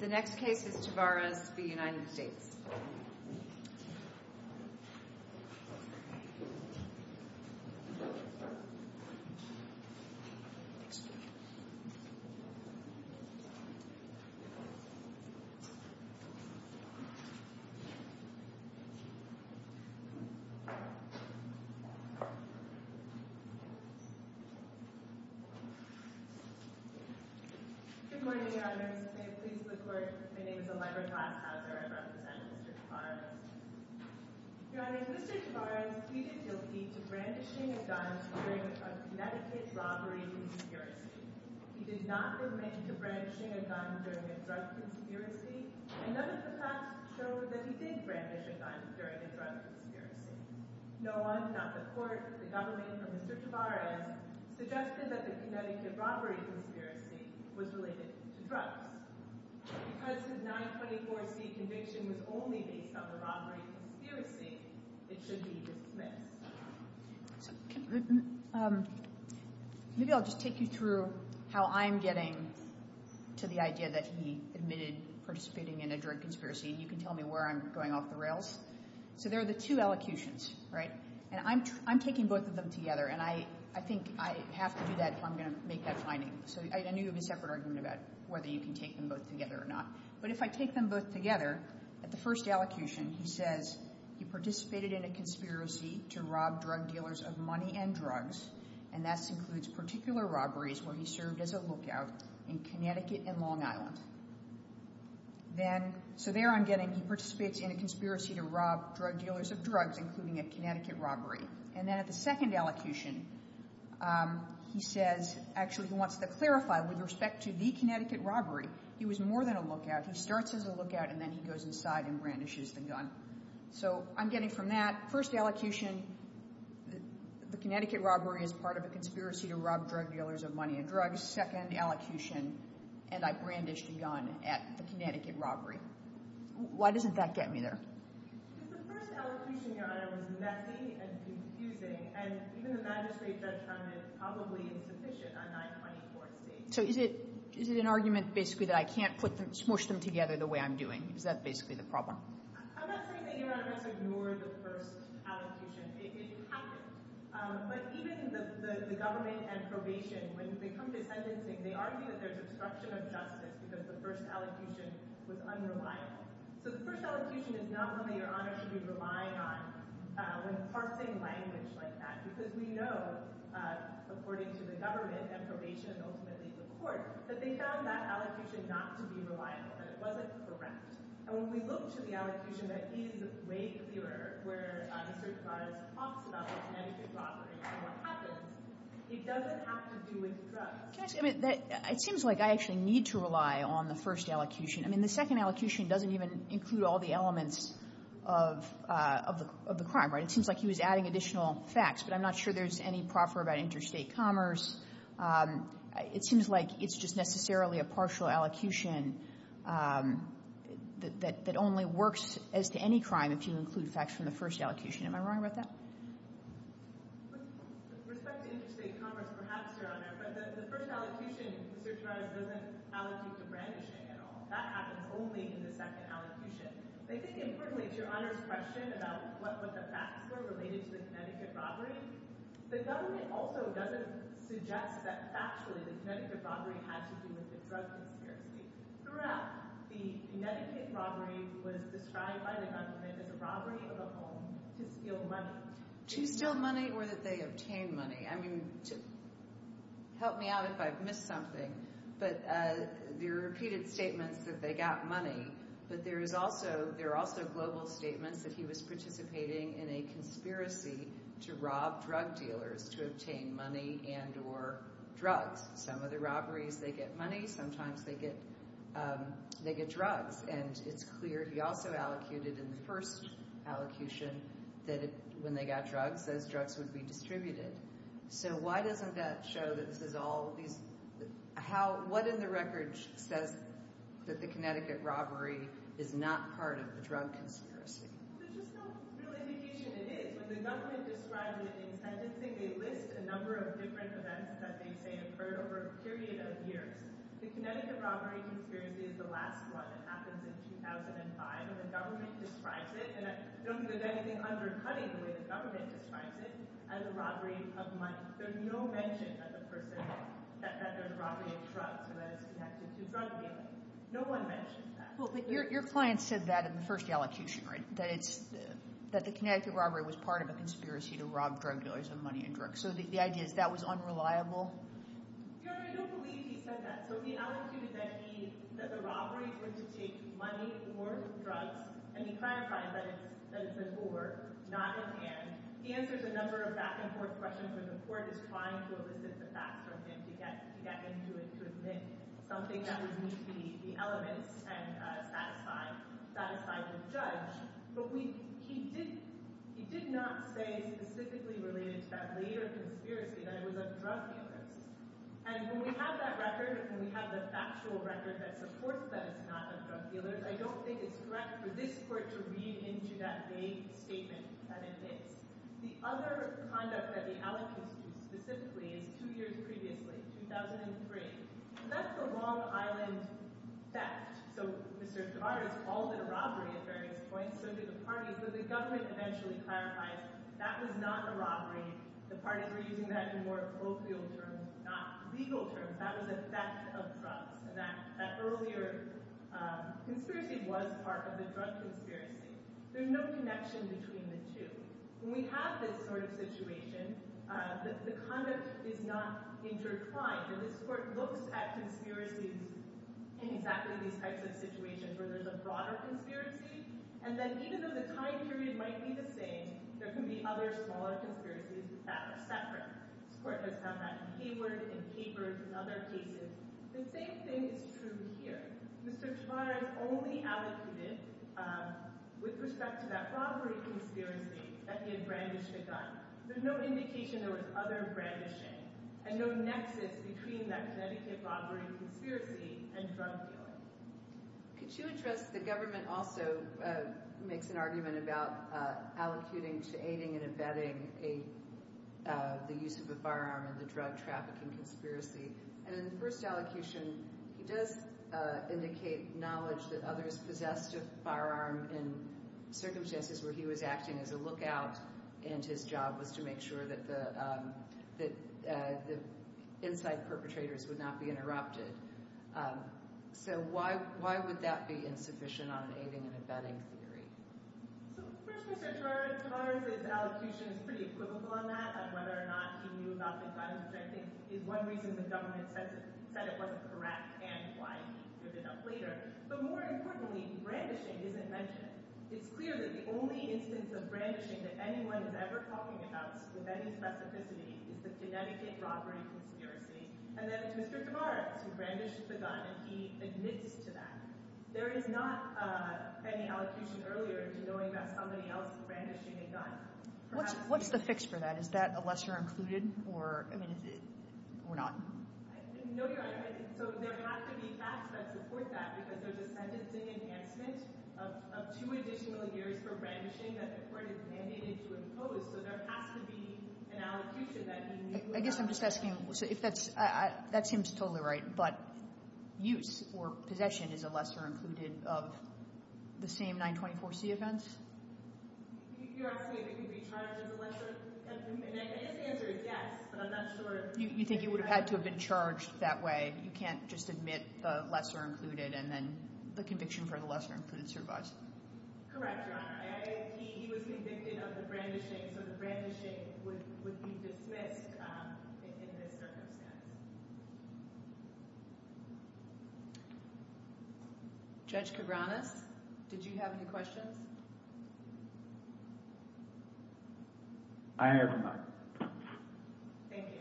The next case is Tavarez v. United States. Good morning, Your Honors. May it please the Court, my name is Allegra Glaskauser. I represent Mr. Tavarez. Your Honor, Mr. Tavarez pleaded guilty to brandishing a gun during a Connecticut robbery conspiracy. He did not remain to brandishing a gun during a drug conspiracy, and none of the facts show that he did brandish a gun during a drug conspiracy. No one, not the Court, the government, or Mr. Tavarez suggested that the Connecticut robbery conspiracy was related to drugs. Because his 924c conviction was only based on the robbery conspiracy, it should be dismissed. Maybe I'll just take you through how I'm getting to the idea that he admitted participating in a drug conspiracy, and you can tell me where I'm going off the rails. So there are the two allocutions, right? And I'm taking both of them together, and I think I have to do that if I'm going to make that finding. So I need to have a separate argument about whether you can take them both together or not. But if I take them both together, at the first allocution, he says he participated in a conspiracy to rob drug dealers of money and drugs, and that includes particular robberies where he served as a lookout in Connecticut and Long Island. So there I'm getting he participates in a conspiracy to rob drug dealers of drugs, including a Connecticut robbery. And then at the second allocution, he says, actually he wants to clarify, with respect to the Connecticut robbery, he was more than a lookout. He starts as a lookout, and then he goes inside and brandishes the gun. So I'm getting from that, first allocution, the Connecticut robbery is part of a conspiracy to rob drug dealers of money and drugs. So I have a second allocution, and I brandished a gun at the Connecticut robbery. Why doesn't that get me there? Because the first allocution, Your Honor, was messy and confusing, and even the magistrate judge found it probably insufficient on 924 states. So is it an argument, basically, that I can't smush them together the way I'm doing? Is that basically the problem? I'm not saying that Your Honor has ignored the first allocution. It happened. But even the government and probation, when they come to sentencing, they argue that there's obstruction of justice because the first allocution was unreliable. So the first allocution is not one that Your Honor should be relying on when parsing language like that. Because we know, according to the government and probation and ultimately the court, that they found that allocution not to be reliable, that it wasn't correct. And when we look to the allocution that is way clearer, where the certified officer talks about the Connecticut robbery and what happens, it doesn't have to do with drugs. It seems like I actually need to rely on the first allocution. I mean, the second allocution doesn't even include all the elements of the crime, right? It seems like he was adding additional facts, but I'm not sure there's any proffer about interstate commerce. It seems like it's just necessarily a partial allocution that only works as to any crime if you include facts from the first allocution. Am I wrong about that? With respect to interstate commerce, perhaps, Your Honor. But the first allocution, the certified officer doesn't allocate to brandishing at all. That happens only in the second allocution. I think, importantly, to Your Honor's question about what the facts were related to the Connecticut robbery, the government also doesn't suggest that factually the Connecticut robbery had to do with the drug conspiracy. Throughout, the Connecticut robbery was described by the government as a robbery of a home to steal money. To steal money or that they obtained money. I mean, help me out if I've missed something, but there are repeated statements that they got money, but there are also global statements that he was participating in a conspiracy to rob drug dealers to obtain money and or drugs. Some of the robberies, they get money. Sometimes they get drugs, and it's clear he also allocated in the first allocation that when they got drugs, those drugs would be distributed. So why doesn't that show that this is all – what in the record says that the Connecticut robbery is not part of the drug conspiracy? There's just no real indication it is. When the government describes it in sentencing, they list a number of different events that they say occurred over a period of years. The Connecticut robbery conspiracy is the last one. It happens in 2005, and the government describes it. And I don't think there's anything undercutting the way the government describes it as a robbery of money. There's no mention that the person – that there's a robbery of drugs that is connected to drug dealing. No one mentioned that. Well, but your client said that in the first allocation, right? That it's – that the Connecticut robbery was part of a conspiracy to rob drug dealers of money and drugs. So the idea is that was unreliable? Your Honor, I don't believe he said that. So he allocated that he – that the robberies were to take money or drugs, and he clarified that it's an or, not an and. He answers a number of back-and-forth questions when the court is trying to elicit the facts from him to get him to admit something that would meet the elements and satisfy the judge. But we – he did – he did not say specifically related to that lead or conspiracy that it was of drug dealers. And when we have that record, when we have the factual record that supports that it's not of drug dealers, I don't think it's correct for this court to read into that vague statement that it is. The other conduct that the allocates do specifically is two years previously, 2003. So that's the Long Island theft. So Mr. DeVar has called it a robbery at various points. So do the parties. But the government eventually clarifies that was not a robbery. The parties were using that in more colloquial terms, not legal terms. That was a theft of drugs. And that earlier conspiracy was part of the drug conspiracy. There's no connection between the two. When we have this sort of situation, the conduct is not intertwined. And this court looks at conspiracies in exactly these types of situations where there's a broader conspiracy. And then even though the time period might be the same, there can be other smaller conspiracies that are separate. This court has done that in Hayward, in Capers, in other cases. The same thing is true here. Mr. DeVar has only allocated with respect to that robbery conspiracy that he had brandished a gun. There's no indication there was other brandishing and no nexus between that Connecticut robbery conspiracy and drug dealing. Could you address the government also makes an argument about allocating to aiding and abetting the use of a firearm in the drug trafficking conspiracy. And in the first allocation, he does indicate knowledge that others possessed a firearm in circumstances where he was acting as a lookout. And his job was to make sure that the inside perpetrators would not be interrupted. So why would that be insufficient on an aiding and abetting theory? First, Mr. DeVar's allocution is pretty equivocal on that, on whether or not he knew about the gun. I think one reason the government said it wasn't correct and why he could have been up later. But more importantly, brandishing isn't mentioned. It's clear that the only instance of brandishing that anyone is ever talking about with any specificity is the Connecticut robbery conspiracy. And then it's Mr. DeVar who brandished the gun, and he admits to that. There is not any allocution earlier to knowing that somebody else brandished a gun. What's the fix for that? Is that a lesser included or not? I didn't know you. So there have to be facts that support that because there's a sentencing enhancement of two additional years for brandishing that the court has mandated to impose. So there has to be an allocution that he knew about. I guess I'm just asking if that's – that seems totally right. But use or possession is a lesser included of the same 924c events? You're asking if he could be charged as a lesser included? I guess the answer is yes, but I'm not sure. You think he would have had to have been charged that way? You can't just admit the lesser included and then the conviction for the lesser included survives? Correct, Your Honor. He was convicted of the brandishing, so the brandishing would be dismissed in this circumstance. Judge Cabranes, did you have any questions? I have none. Thank you.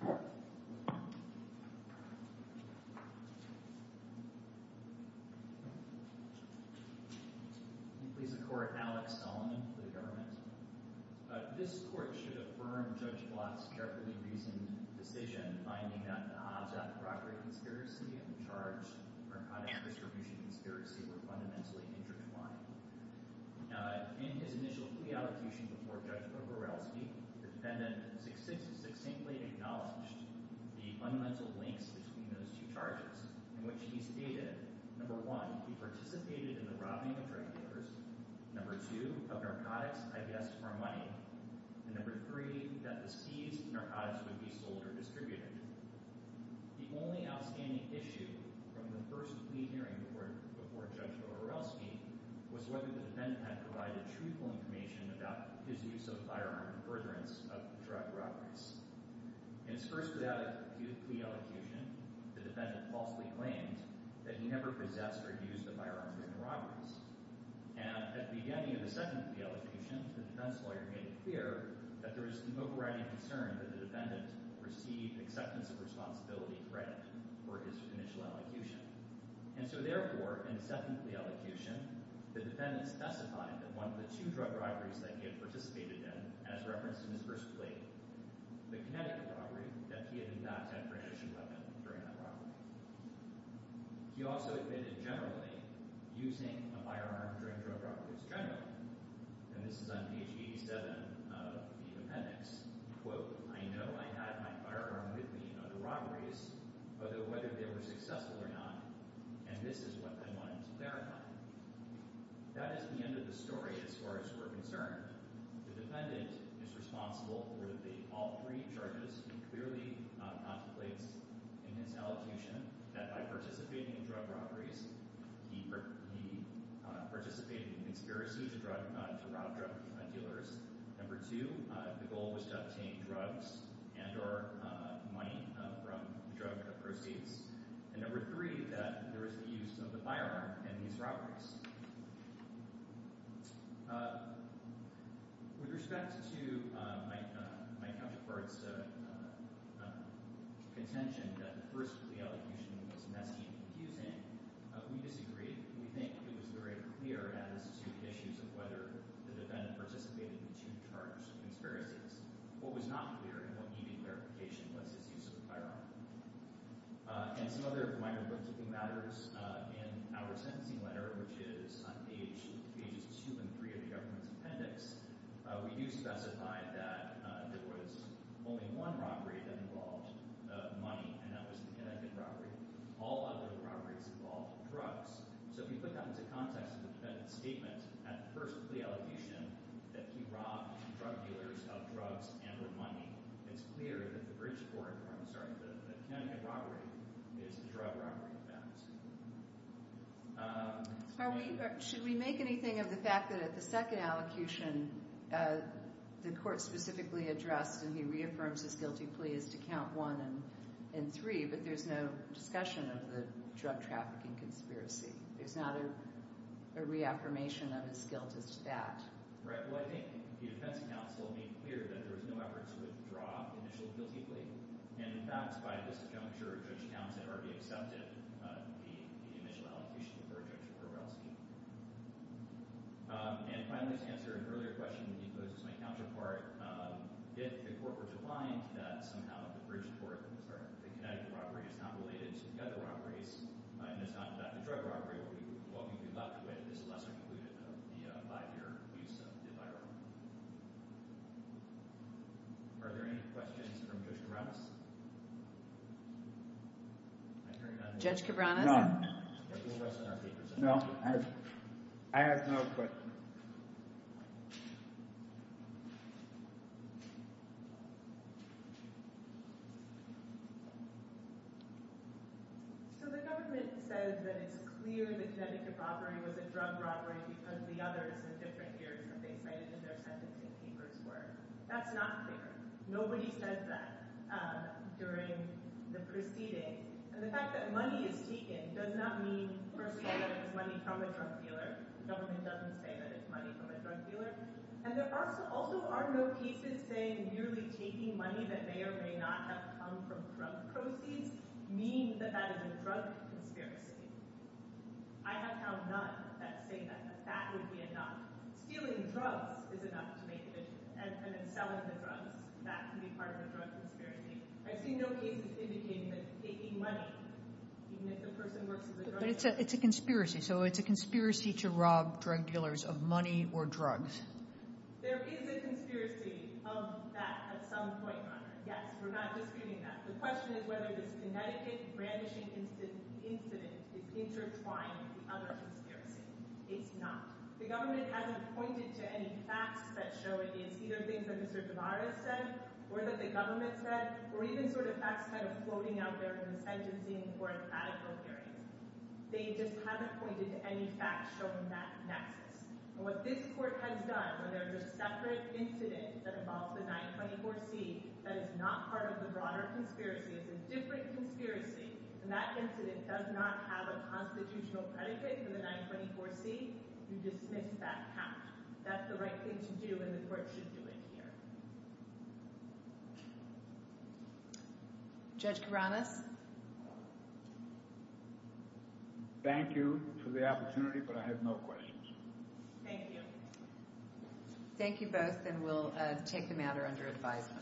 Thank you. Please support Alex Solomon for the government. This court should affirm Judge Blatt's carefully reasoned decision, finding that the Hobbs-Athabrocker conspiracy and the charged narcotics distribution conspiracy were fundamentally intertwined. In his initial plea allocution before Judge Bororowski, the defendant succinctly acknowledged the fundamental links between those two charges, in which he stated, number one, he participated in the robbing of drug dealers, number two, of narcotics, I guess, for money, and number three, that the seized narcotics would be sold or distributed. The only outstanding issue from the first plea hearing before Judge Bororowski was whether the defendant had provided truthful information about his use of a firearm in furtherance of the drug robberies. In his first without a plea allocution, the defendant falsely claimed that he never possessed or used a firearm during the robberies. And at the beginning of the second plea allocution, the defense lawyer made it clear that there was an overriding concern that the defendant received acceptance of responsibility credit for his initial allocution. And so therefore, in the second plea allocution, the defendant specified that one of the two drug robberies that he had participated in, as referenced in his first plea, the kinetic robbery, that he had in fact had permission to weapon during that robbery. He also admitted generally using a firearm during drug robberies generally. And this is on page 87 of the appendix. Quote, I know I had my firearm with me on the robberies, whether they were successful or not, and this is what I wanted to clarify. That is the end of the story as far as we're concerned. The defendant is responsible for all three charges. He clearly contemplates in his allocation that by participating in drug robberies, he participated in conspiracy to rob drug dealers. Number two, the goal was to obtain drugs and or money from drug proceeds. And number three, that there was the use of the firearm in these robberies. With respect to my counterpart's contention that the first plea allocation was messy and confusing, we disagree. We think it was very clear as to the issues of whether the defendant participated in the two charged conspiracies. What was not clear and what needed clarification was his use of the firearm. And some other minor bookkeeping matters in our sentencing letter, which is on pages two and three of the government's appendix, we do specify that there was only one robbery that involved money, and that was the Connecticut robbery. All other robberies involved drugs. So if you put that into context of the defendant's statement at the first plea allocation that he robbed drug dealers of drugs and or money, it's clear that the Connecticut robbery is a drug robbery offense. Should we make anything of the fact that at the second allocation, the court specifically addressed and he reaffirms his guilty plea is to count one and three, but there's no discussion of the drug trafficking conspiracy. There's not a reaffirmation of his guilt as to that. Well, I think the defense counsel made clear that there was no effort to withdraw initial guilty plea, and in fact, by this juncture, Judge Townsend already accepted the initial allocation for Judge Kowalski. And finally, to answer an earlier question that he posed as my counterpart, if the court were to find that somehow the Connecticut robbery is not related to the other robberies, and it's not about the drug robbery, well, we would be left with this lesser-concluded five-year plea. Are there any questions from Judge Kavranas? Judge Kavranas? No. No, I have no questions. Thank you. So the government says that it's clear the Connecticut robbery was a drug robbery because the others in different areas that they cited in their sentencing papers were. That's not clear. Nobody said that during the proceeding. And the fact that money is taken does not mean, first of all, that it was money from a drug dealer. The government doesn't say that it's money from a drug dealer. And there also are no cases saying merely taking money that may or may not have come from drug proceeds means that that is a drug conspiracy. I have found none that say that that would be enough. Stealing drugs is enough to make a difference. And then selling the drugs, that can be part of a drug conspiracy. I see no cases indicating that taking money, even if the person works as a drug dealer. But it's a conspiracy. So it's a conspiracy to rob drug dealers of money or drugs. There is a conspiracy of that at some point, Your Honor. Yes, we're not disputing that. The question is whether this Connecticut brandishing incident is intertwined with the other conspiracy. It's not. The government hasn't pointed to any facts that show it is. Either things that Mr. Kavranas said or that the government said or even sort of facts kind of floating out there in this agency in the court of radical hearings. They just haven't pointed to any facts showing that nexus. And what this court has done, whether it's a separate incident that involves the 924C that is not part of the broader conspiracy, it's a different conspiracy, and that incident does not have a constitutional predicate for the 924C, you dismiss that count. That's the right thing to do, and the court should do it here. Judge Kavranas? Thank you for the opportunity, but I have no questions. Thank you. Thank you both, and we'll take the matter under advisement.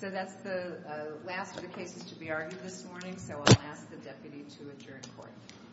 So that's the last of the cases to be argued this morning, so I'll ask the deputy to adjourn court.